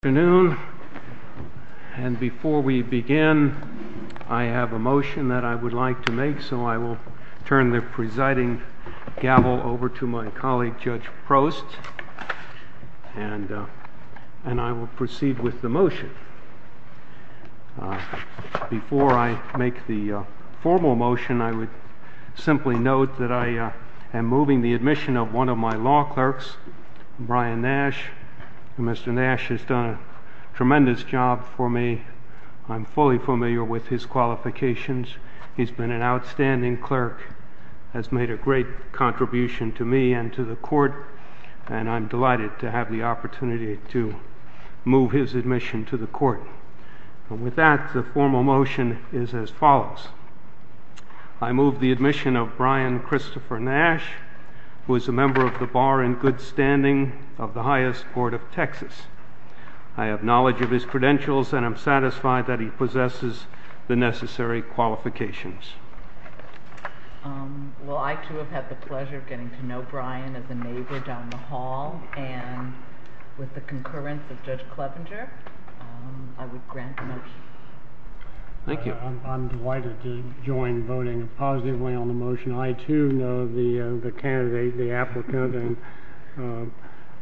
Good afternoon, and before we begin, I have a motion that I would like to make, so I will turn the presiding gavel over to my colleague, Judge Prost, and I will proceed with the motion. Before I make the formal motion, I would simply note that I am moving the admission of one of my law clerks, Brian Nash. Mr. Nash has done a tremendous job for me. I'm fully familiar with his qualifications. He's been an outstanding clerk, has made a great contribution to me and to the court, and I'm delighted to have the opportunity to move his admission to the court. And with that, the formal motion is as follows. I move the admission of Brian Christopher Nash, who is a member of the bar in good standing of the highest court of Texas. I have knowledge of his credentials, and I'm satisfied that he possesses the necessary qualifications. Well, I too have had the pleasure of getting to know Brian as a neighbor down the hall, and with the concurrence of Judge Clevenger, I would grant the motion. Thank you. I'm delighted to join voting positively on the motion. I too know the candidate, the applicant, and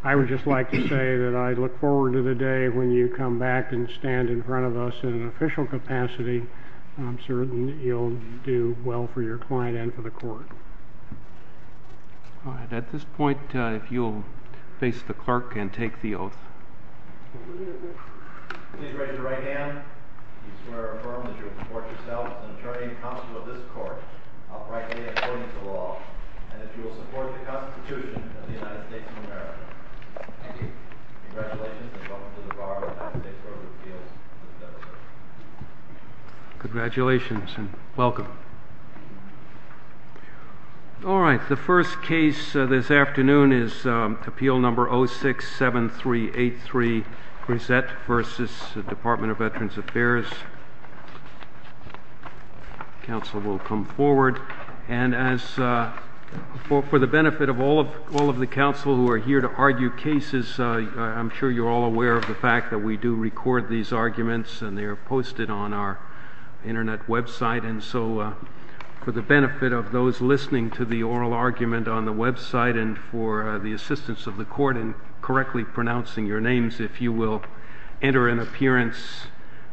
I would just like to say that I look forward to the day when you come back and stand in front of us in an official capacity. I'm certain that you'll do well for your client and for the court. All right. At this point, if you'll face the clerk and take the oath. Please raise your right hand if you swear or affirm that you will support yourself as an attorney and counsel of this court, uprightly and according to law, and that you will support the Constitution of the United States of America. Thank you. Congratulations, and welcome to the Bar of the United States Court of Appeals. Congratulations, and welcome. All right. The first case this afternoon is Appeal No. 067383, Grisette v. Department of Veterans Affairs. The counsel will come forward, and for the benefit of all of the counsel who are here to argue cases, I'm sure you're all aware of the fact that we do record these arguments, and they are posted on our internet website, and so for the benefit of those listening to the oral argument on the website and for the assistance of the court in correctly pronouncing your names, if you will enter an appearance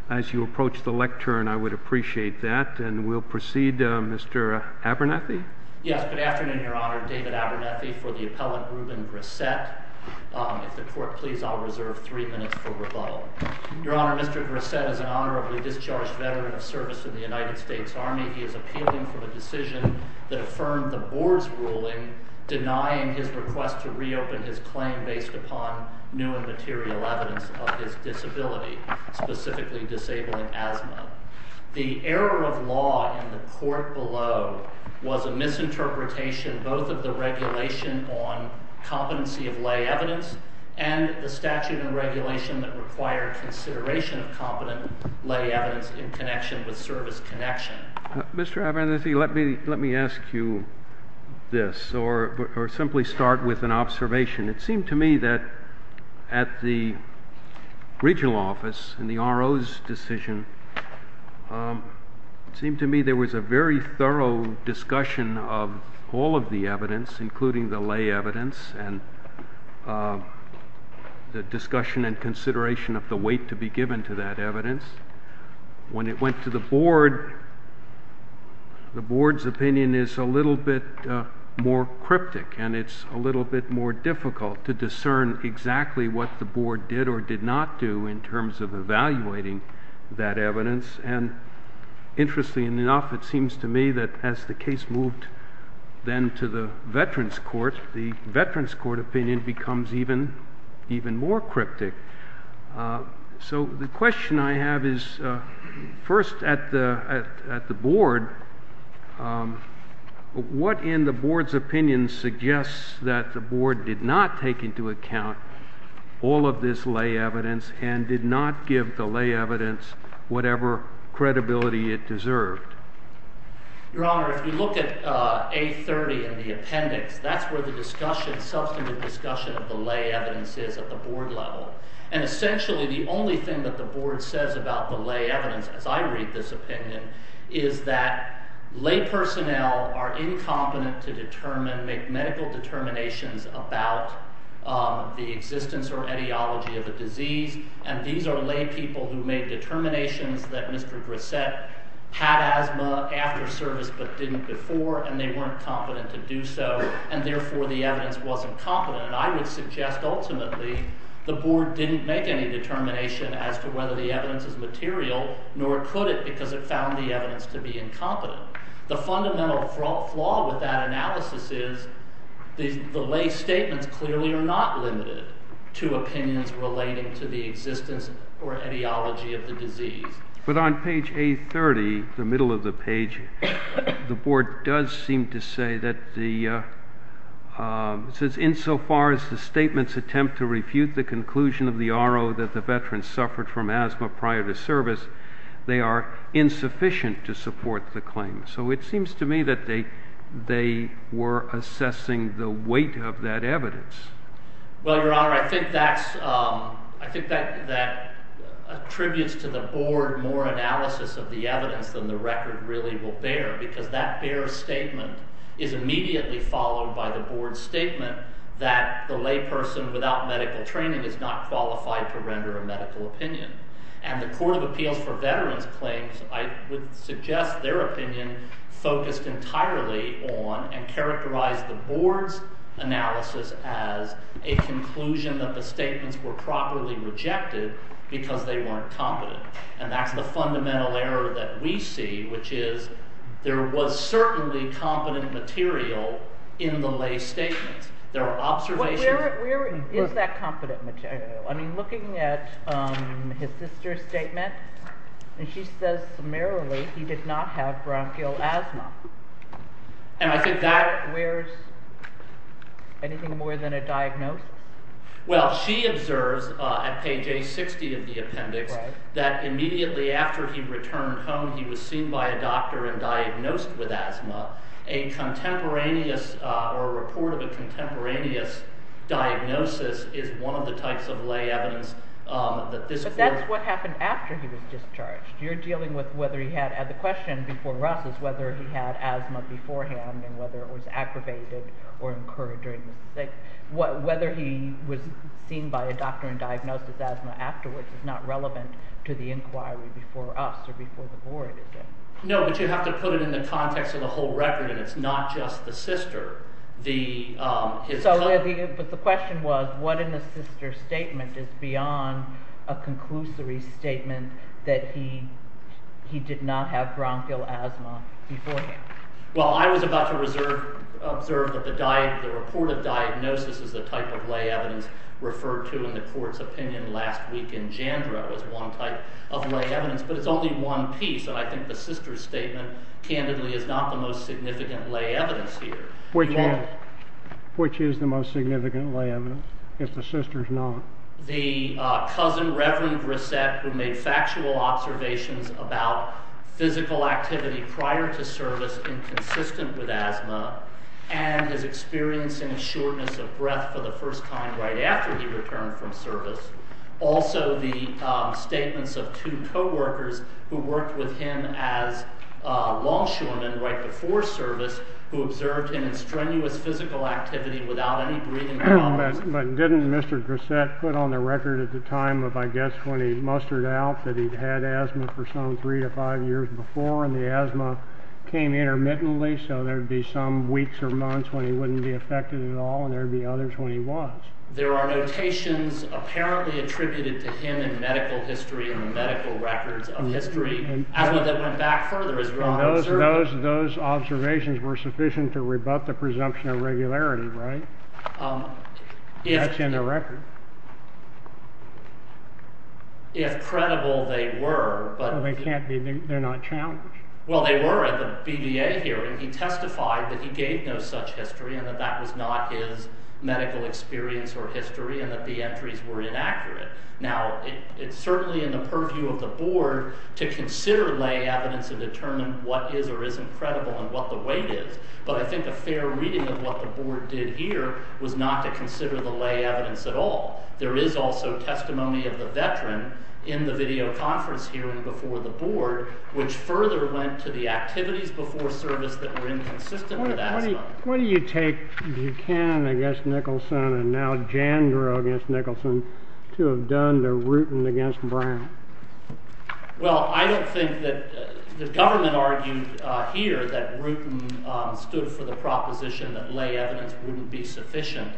as you approach the lectern, I would appreciate that, and we'll proceed. Mr. Abernethy? Yes, good afternoon, Your Honor. David Abernethy for the appellant Ruben Grisette. If the court will defer, please, I'll reserve three minutes for rebuttal. Your Honor, Mr. Grisette is an honorably discharged veteran of service in the United States Army. He is appealing for the decision that affirmed the board's ruling denying his request to reopen his claim based upon new and material evidence of his disability, specifically disabling asthma. The error of law in the court below was a misinterpretation both of the regulation on and the statute and regulation that require consideration of competent lay evidence in connection with service connection. Mr. Abernethy, let me ask you this, or simply start with an observation. It seemed to me that at the regional office in the RO's decision, it seemed to me there was a very thorough discussion of all of the evidence, including the lay evidence, and the discussion and consideration of the weight to be given to that evidence. When it went to the board, the board's opinion is a little bit more cryptic, and it's a little bit more difficult to discern exactly what the board did or did not do in terms of evaluating that evidence. And interestingly enough, it seems to me that as the case moved then to the Veterans Court, the Veterans Court opinion becomes even more cryptic. So the question I have is, first at the board, what in the board's opinion suggests that the board did not take into account all of this lay evidence and did not give the lay evidence whatever credibility it deserved? Your Honor, if you look at A30 in the appendix, that's where the discussion, substantive discussion of the lay evidence is at the board level. And essentially the only thing that the board says about the lay evidence, as I read this opinion, is that lay personnel are incompetent to determine, make medical determinations about the existence or ideology of a disease, and these are lay people who made determinations that Mr. Grissett had asthma after service but didn't before, and they weren't competent to do so, and therefore the evidence wasn't competent. And I would suggest ultimately the board didn't make any determination as to whether the evidence is material, nor could it because it found the evidence to be incompetent. The fundamental flaw with that analysis is the lay statements clearly are not limited to opinions relating to the existence or ideology of the disease. But on page A30, the middle of the page, the board does seem to say that the, it says insofar as the statements attempt to refute the conclusion of the RO that the veteran suffered from asthma prior to service, they are insufficient to support the claim. So it seems to me that they were assessing the weight of that evidence. Well, Your Honor, I think that attributes to the board more analysis of the evidence than the record really will bear, because that bare statement is immediately followed by the board's statement that the lay person without medical training is not qualified to render a medical opinion. And the Court of Appeals for Veterans Claims, I would suggest their opinion focused entirely on and characterized the board's analysis as a conclusion that the statements were properly rejected because they weren't competent. And that's the fundamental error that we see, which is there was certainly competent material in the lay statements. There are observations... Where is that competent material? I mean, looking at his sister's statement, and she says summarily he did not have bronchial asthma. And I think that... Where's anything more than a diagnosis? Well, she observes at page A60 of the appendix that immediately after he returned home, he was seen by a doctor and diagnosed with asthma. A contemporaneous, or a report of a contemporaneous diagnosis is one of the types of lay evidence that this... But that's what happened after he was discharged. You're dealing with whether he had... The question before us is whether he had asthma beforehand and whether it was aggravated or incurred during his... Whether he was seen by a doctor and diagnosed with asthma afterwards is not relevant to the inquiry before us or before the board, is it? No, but you have to put it in the context of the whole record, and it's not just the sister. The... ...statement that he did not have bronchial asthma beforehand. Well, I was about to observe that the report of diagnosis is the type of lay evidence referred to in the court's opinion last week in Jandrow as one type of lay evidence, but it's only one piece, and I think the sister's statement, candidly, is not the most significant lay evidence here. Which is the most significant lay evidence, if the sister's not? The cousin, Reverend Grissett, who made factual observations about physical activity prior to service inconsistent with asthma and his experience in shortness of breath for the first time right after he returned from service. Also, the statements of two co-workers who worked with him as longshoremen right before service who observed him in strenuous physical activity without any breathing problems. But didn't Mr. Grissett put on the record at the time of, I guess, when he mustered out that he'd had asthma for some three to five years before, and the asthma came intermittently, so there'd be some weeks or months when he wouldn't be affected at all, and there'd be others when he was. There are notations apparently attributed to him in medical history or medical records of history, asthma that went back further as we're observing. And those observations were sufficient to rebut the presumption of regularity, right? That's in the record. If credible, they were. Well, they can't be. They're not challenged. Well, they were at the BBA hearing. He testified that he gave no such history and that that was not his medical experience or history and that the entries were inaccurate. Now, it's certainly in the purview of the board to consider lay evidence and determine what is or isn't credible and what the weight is, but I think a fair reading of what the board did here was not to consider the lay evidence at all. There is also testimony of the veteran in the videoconference hearing before the board, which further went to the activities before service that were inconsistent with asthma. What do you take Buchanan against Nicholson and now Jandrow against Nicholson to have done to Rutan against Brown? Well, I don't think that the government argued here that Rutan stood for the proposition that lay evidence wouldn't be sufficient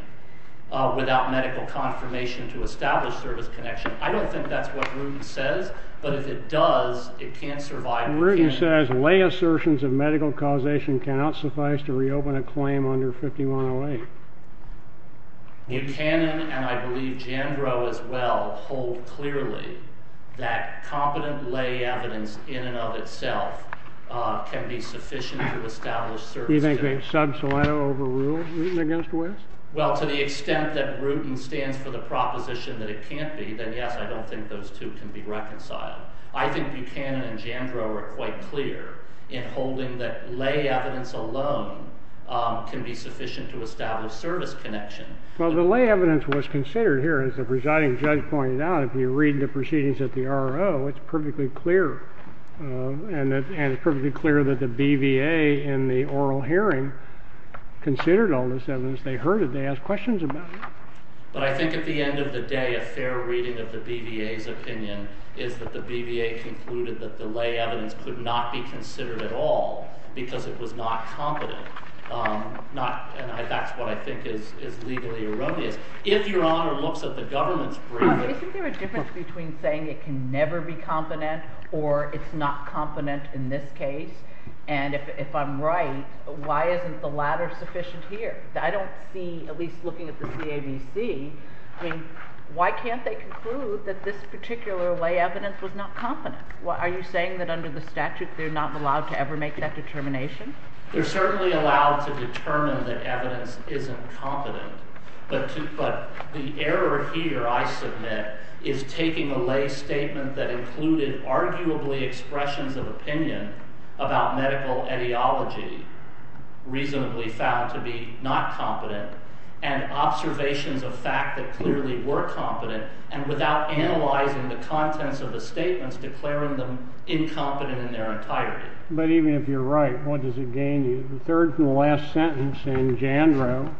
without medical confirmation to establish service connection. I don't think that's what Rutan says, but if it does, it can't survive Buchanan. Rutan says lay assertions of medical causation cannot suffice to reopen a claim under 5108. Buchanan, and I believe Jandrow as well, hold clearly that competent lay evidence in and of itself can be sufficient to establish service connection. Do you think they've subset over Rutan against West? Well, to the extent that Rutan stands for the proposition that it can't be, then yes, I don't think those two can be reconciled. I think Buchanan and Jandrow are quite clear in holding that lay evidence alone can be sufficient to establish service connection. Well, the lay evidence was considered here, as the presiding judge pointed out. If you read the proceedings at the RO, it's perfectly clear, and it's perfectly clear that the BVA in the oral hearing considered all this evidence. They heard it. They asked questions about it. But I think at the end of the day, a fair reading of the BVA's opinion is that the BVA concluded that the lay evidence could not be considered at all because it was not competent. And that's what I think is legally erroneous. If Your Honor looks at the government's brief… Isn't there a difference between saying it can never be competent or it's not competent in this case? And if I'm right, why isn't the latter sufficient here? I don't see, at least looking at the CABC, why can't they conclude that this particular lay evidence was not competent? Are you saying that under the statute they're not allowed to ever make that determination? They're certainly allowed to determine that evidence isn't competent. But the error here, I submit, is taking a lay statement that included arguably expressions of opinion about medical etiology reasonably found to be not competent, and observations of fact that clearly were competent, and without analyzing the contents of the statements, declaring them incompetent in their entirety. But even if you're right, what does it gain you? The third and last sentence in Jandro,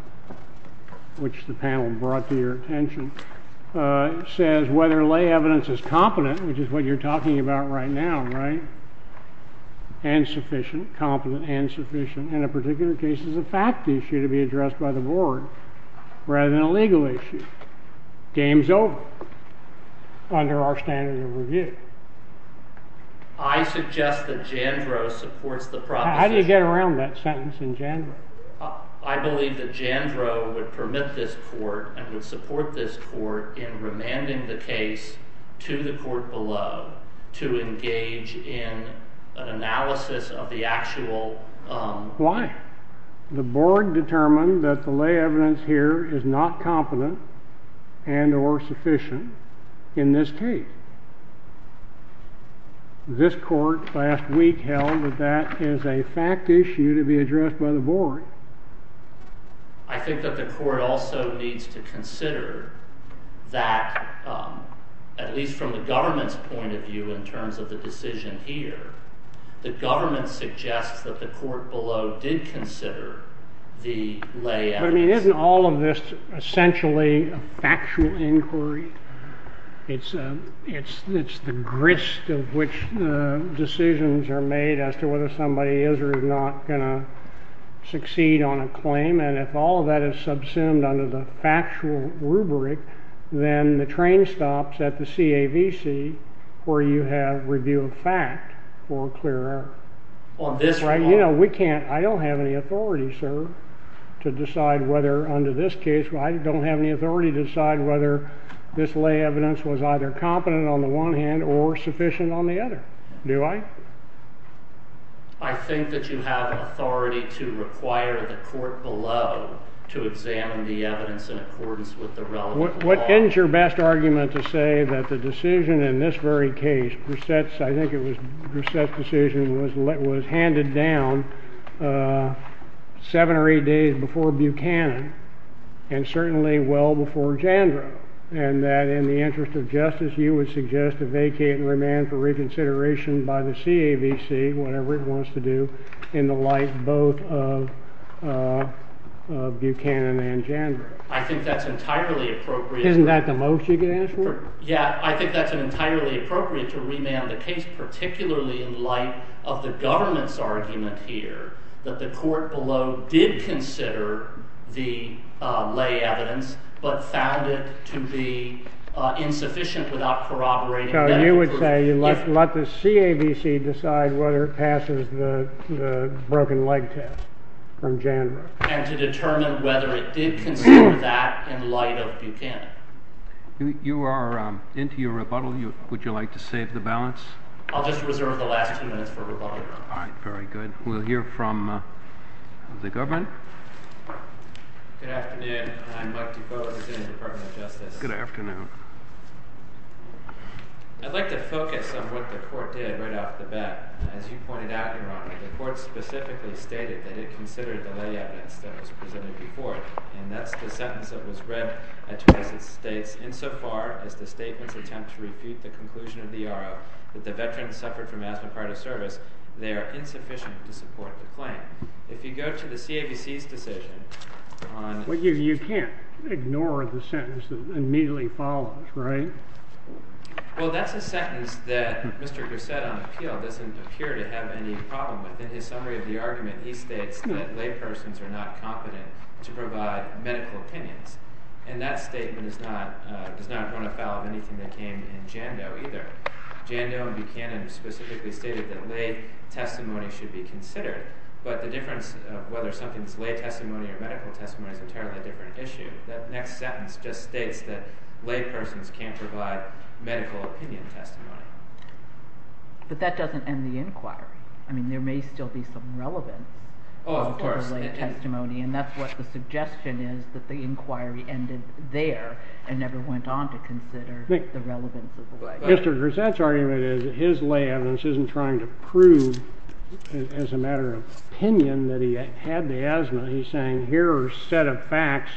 which the panel brought to your attention, says whether lay evidence is competent, which is what you're talking about right now, right? And sufficient, competent and sufficient. In a particular case, it's a fact issue to be addressed by the board rather than a legal issue. Game's over under our standard of review. I suggest that Jandro supports the proposition... How did you get around that sentence in Jandro? I believe that Jandro would permit this court and would support this court in remanding the case to the court below to engage in an analysis of the actual... Why? The board determined that the lay evidence here is not competent and or sufficient in this case. This court last week held that that is a fact issue to be addressed by the board. I think that the court also needs to consider that, at least from the government's point of view in terms of the decision here, the government suggests that the court below did consider the lay evidence. I mean, isn't all of this essentially a factual inquiry? It's the grist of which decisions are made as to whether somebody is or is not going to succeed on a claim. And if all of that is subsumed under the factual rubric, then the train stops at the CAVC where you have review of fact for a clear error. I don't have any authority, sir, to decide whether under this case, I don't have any authority to decide whether this lay evidence was either competent on the one hand or sufficient on the other. Do I? I think that you have authority to require the court below to examine the evidence in accordance with the relevant... What ends your best argument to say that the decision in this very case, Brissette's, I think it was Brissette's decision, was handed down seven or eight days before Buchanan and certainly well before Jandro and that in the interest of justice you would suggest to vacate and remand for reconsideration by the CAVC, whatever it wants to do, in the light both of Buchanan and Jandro? I think that's entirely appropriate. Isn't that the most you could ask for? Yeah, I think that's entirely appropriate to remand the case, particularly in light of the government's argument here that the court below did consider the lay evidence but found it to be insufficient without corroborating... So you would say let the CAVC decide whether it passes the broken leg test from Jandro. And to determine whether it did consider that in light of Buchanan. You are into your rebuttal. Would you like to save the balance? I'll just reserve the last two minutes for rebuttal. All right, very good. We'll hear from the government. Good afternoon. I'm Mike DuBose in the Department of Justice. Good afternoon. I'd like to focus on what the court did right off the bat. As you pointed out, Your Honor, the court specifically stated that it considered the lay evidence that was presented before it. And that's the sentence that was read as it states, insofar as the statement's attempt to repeat the conclusion of the RO that the veterans suffered from asthma prior to service, they are insufficient to support the claim. If you go to the CAVC's decision on... But you can't ignore the sentence that immediately follows, right? Well, that's a sentence that Mr. Gusset on appeal doesn't appear to have any problem with. In his summary of the argument, he states that laypersons are not competent to provide medical opinions. And that statement does not run afoul of anything that came in Jandro either. Jandro and Buchanan specifically stated that lay testimony should be considered. But the difference of whether something's lay testimony or medical testimony is entirely a different issue. That next sentence just states that laypersons can't provide medical opinion testimony. But that doesn't end the inquiry. I mean, there may still be some relevance to the lay testimony. And that's what the suggestion is, that the inquiry ended there and never went on to consider the relevance of the lay testimony. Mr. Gusset's argument is that his lay evidence isn't trying to prove, as a matter of opinion, that he had the asthma. He's saying here are a set of facts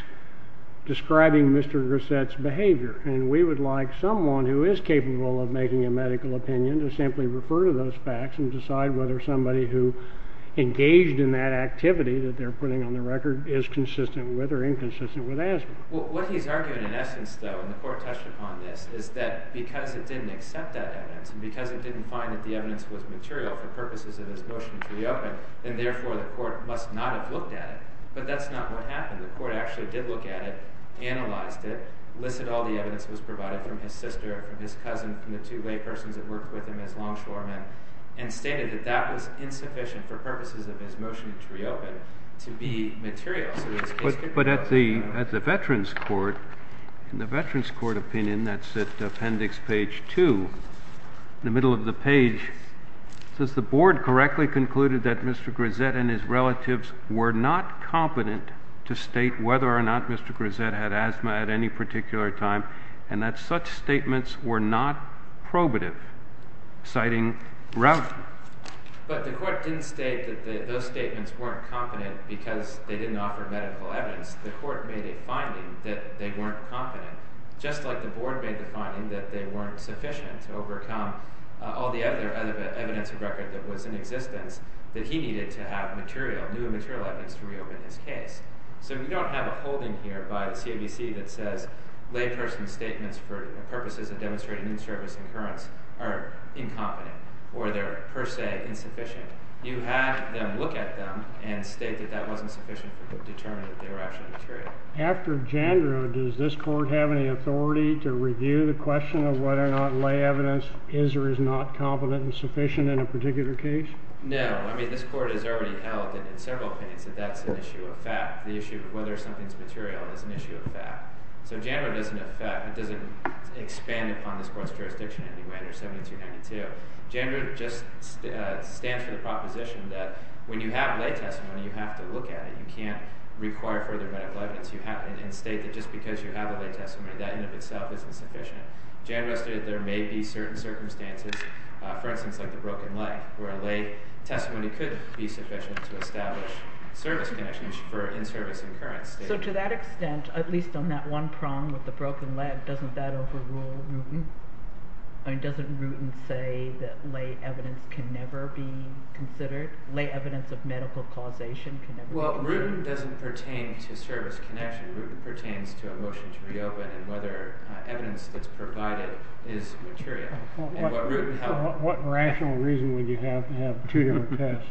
describing Mr. Gusset's behavior. And we would like someone who is capable of making a medical opinion to simply refer to those facts and decide whether somebody who engaged in that activity that they're putting on the record is consistent with or inconsistent with asthma. Well, what he's arguing in essence, though, and the Court touched upon this, is that because it didn't accept that evidence and because it didn't find that the evidence was material for purposes of his motion to reopen, then therefore the Court must not have looked at it. But that's not what happened. The Court actually did look at it, analyzed it, listed all the evidence that was provided from his sister, from his cousin, from the two laypersons that worked with him as longshoremen, and stated that that was insufficient for purposes of his motion to reopen to be material. But at the Veterans Court, in the Veterans Court opinion, that's at appendix page 2, in the middle of the page, it says, The Board correctly concluded that Mr. Gusset and his relatives were not competent to state whether or not Mr. Gusset had asthma at any particular time and that such statements were not probative, citing Ravel. But the Court didn't state that those statements weren't competent because they didn't offer medical evidence. The Court made a finding that they weren't competent, just like the Board made the finding that they weren't sufficient to overcome all the evidence of record that was in existence that he needed to have new and material evidence to reopen his case. So you don't have a holding here by the CABC that says layperson's statements for purposes of demonstrating new service and occurrence are incompetent or they're per se insufficient. You had them look at them and state that that wasn't sufficient to determine that they were actually material. After JANDRA, does this Court have any authority to review the question of whether or not lay evidence is or is not competent and sufficient in a particular case? No. I mean, this Court has already held in several opinions that that's an issue of fact. The issue of whether something's material is an issue of fact. So JANDRA doesn't expand upon this Court's jurisdiction anyway under 1792. JANDRA just stands for the proposition that when you have lay testimony, you have to look at it. You can't require further medical evidence. You have to state that just because you have a lay testimony, that in and of itself isn't sufficient. JANDRA stated that there may be certain circumstances, for instance, like the broken leg, where a lay testimony could be sufficient to establish service connections for in-service and occurrence statements. So to that extent, at least on that one prong with the broken leg, doesn't that overrule Rutan? I mean, doesn't Rutan say that lay evidence can never be considered? Lay evidence of medical causation can never be considered? Well, Rutan doesn't pertain to service connection. Rutan pertains to a motion to reopen and whether evidence that's provided is material. And what Rutan held. What rational reason would you have to have two different tests?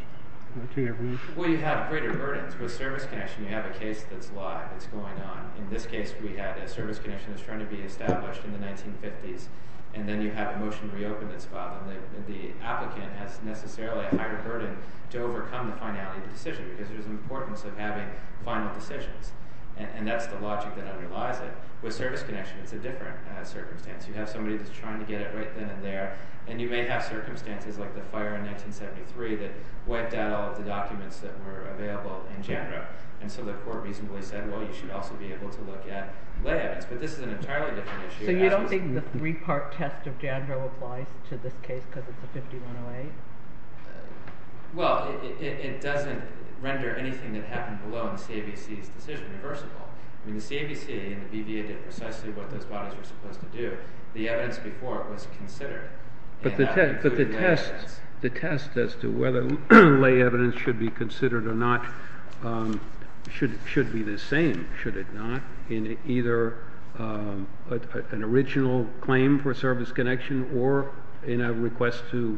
Well, you have greater burdens. With service connection, you have a case that's live, that's going on. In this case, we had a service connection that's trying to be established in the 1950s. And then you have a motion to reopen that's filed. And the applicant has necessarily a higher burden to overcome the finality of the decision, because there's an importance of having final decisions. And that's the logic that underlies it. With service connection, it's a different circumstance. You have somebody that's trying to get it right then and there. And you may have circumstances like the fire in 1973 that wiped out all of the documents that were available in Jandro. And so the court reasonably said, well, you should also be able to look at lay evidence. But this is an entirely different issue. So you don't think the three-part test of Jandro applies to this case because it's a 5108? Well, it doesn't render anything that happened below in the CABC's decision reversible. I mean, the CABC and the BVA did precisely what those bodies were supposed to do. The evidence before it was considered. But the test as to whether lay evidence should be considered or not should be the same, should it not, in either an original claim for service connection or in a request to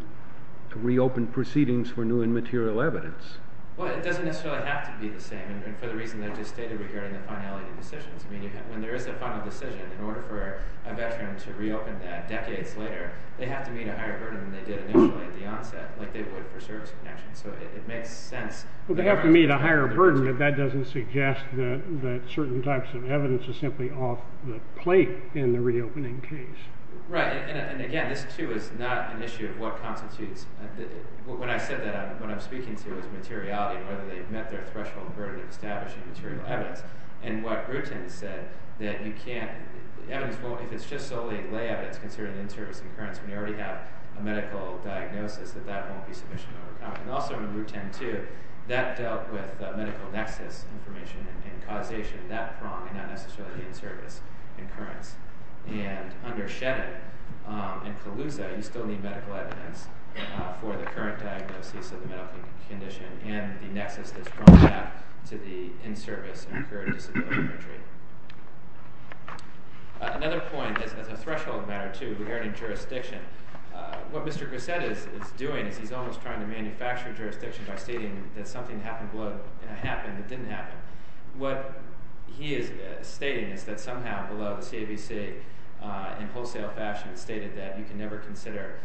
reopen proceedings for new and material evidence. Well, it doesn't necessarily have to be the same. And for the reason that I just stated regarding the finality of decisions. I mean, when there is a final decision, in order for a veteran to reopen that decades later, they have to meet a higher burden than they did initially at the onset, like they would for service connection. So it makes sense. Well, they have to meet a higher burden, but that doesn't suggest that certain types of evidence are simply off the plate in the reopening case. Right. And again, this, too, is not an issue of what constitutes. When I said that, what I'm speaking to is materiality and whether they've met their threshold in order to establish a material evidence. And what Rutan said, that you can't, the evidence won't, if it's just solely lay evidence, considering interior circumference, when you already have a medical diagnosis, that that won't be sufficient to overcome it. And also in Rutan, too, that dealt with the medical nexus information and causation of that prong, and not necessarily the in-service occurrence. And under Shevin and Calusa, you still need medical evidence for the current diagnosis of the medical condition and the nexus that's thrown out to the in-service and incurred disability country. Another point is, as a threshold matter, too, regarding jurisdiction. What Mr. Grissett is doing is he's almost trying to manufacture jurisdiction by stating that something happened below, and it happened, it didn't happen. What he is stating is that somehow below, the CAVC, in wholesale fashion, stated that you can never consider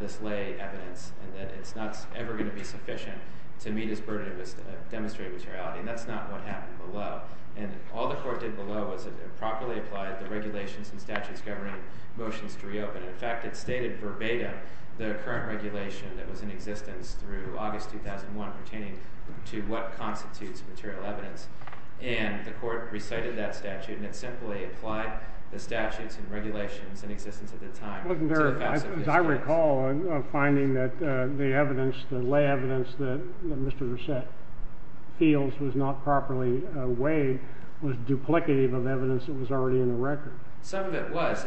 this lay evidence and that it's not ever going to be sufficient to meet its burden of demonstrated materiality. And that's not what happened below. And all the court did below was properly apply the regulations and statutes governing motions to reopen. In fact, it stated verbatim the current regulation that was in existence through August 2001 pertaining to what constitutes material evidence. And the court recited that statute and it simply applied the statutes and regulations in existence at the time. I recall finding that the evidence, the lay evidence that Mr. Grissett feels was not properly weighed was duplicative of evidence that was already in the record. Some of it was.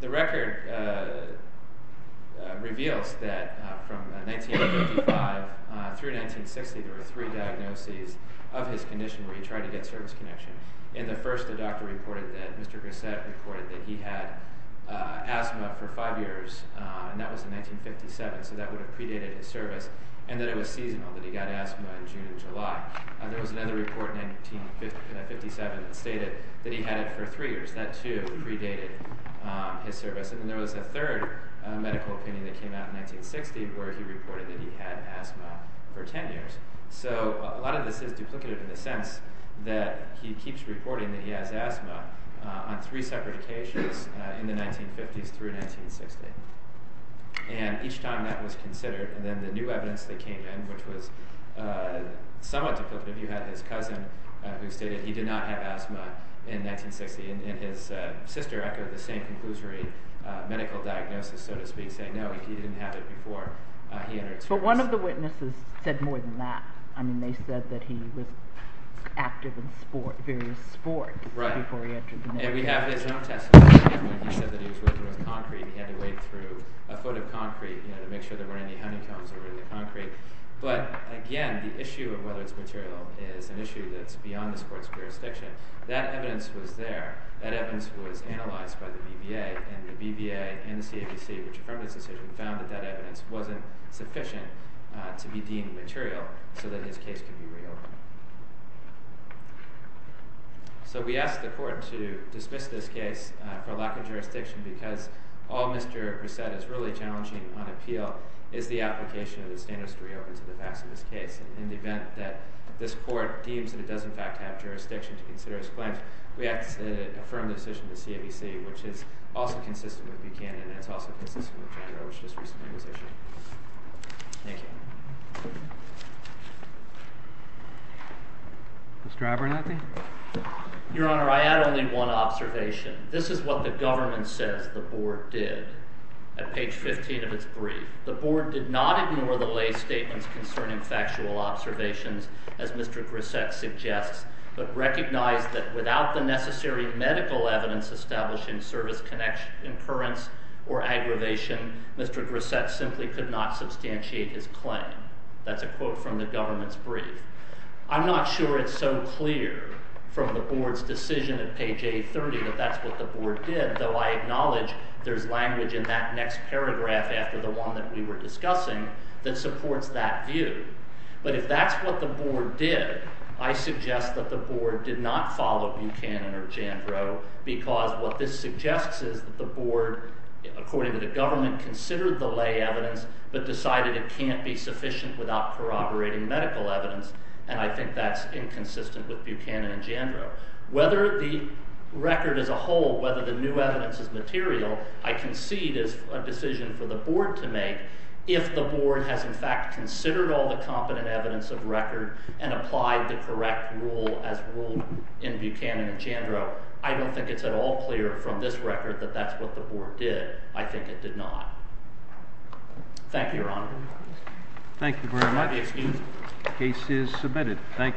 The record reveals that from 1955 through 1960 there were three diagnoses of his condition where he tried to get service connection. In the first, the doctor reported that Mr. Grissett reported that he had asthma for five years, and that was in 1957, so that would have predated his service, and that it was seasonal, that he got asthma in June and July. There was another report in 1957 that stated that he had it for three years. That, too, predated his service. And then there was a third medical opinion that came out in 1960 where he reported that he had asthma for ten years. So a lot of this is duplicative in the sense that he keeps reporting that he has asthma on three separate occasions in the 1950s through 1960. And each time that was considered, then the new evidence that came in, which was somewhat duplicative, you had his cousin who stated that he did not have asthma in 1960, and his sister echoed the same conclusory medical diagnosis, so to speak, saying, no, he didn't have it before. But one of the witnesses said more than that. I mean, they said that he was active in various sports before he entered the military. And we have his own testimony. He said that he was working with concrete, he had to wade through a foot of concrete to make sure there weren't any honeycombs in the concrete. But, again, the issue of whether it's material is an issue that's beyond this court's jurisdiction. That evidence was there. That evidence was analyzed by the BVA, and the BVA and the CABC, which affirmed this decision, found that that evidence wasn't sufficient to be deemed material so that his case could be reopened. So we asked the court to dismiss this case for lack of jurisdiction, because all Mr. Reset is really challenging on appeal is the application of the standards to reopen to the facts of this case. And in the event that this court deems that it does, in fact, have jurisdiction to consider his claims, we have to affirm the decision of the CABC, which is also consistent with Buchanan, and it's also consistent with Judge Roach's recent position. Thank you. Mr. Abernathy? Your Honor, I add only one observation. This is what the government says the board did at page 15 of its brief. The board did not ignore the lay statements concerning factual observations, as Mr. Reset suggests, but recognized that without the necessary medical evidence establishing service connection occurrence or aggravation, Mr. Reset simply could not substantiate his claim. That's a quote from the government's brief. I'm not sure it's so clear from the board's decision at page 830 that that's what the board did, though I acknowledge there's language in that next paragraph after the one that we were discussing that supports that view. But if that's what the board did, I suggest that the board did not follow Buchanan or Jandro, because what this suggests is that the board, according to the government, considered the lay evidence but decided it can't be sufficient without corroborating medical evidence, and I think that's inconsistent with Buchanan and Jandro. Whether the record as a whole, whether the new evidence is material, I concede is a decision for the board to make if the board has in fact considered all the competent evidence of record and applied the correct rule as ruled in Buchanan and Jandro. I don't think it's at all clear from this record that that's what the board did. I think it did not. Thank you, Your Honor. Thank you very much. The case is submitted. Thank you.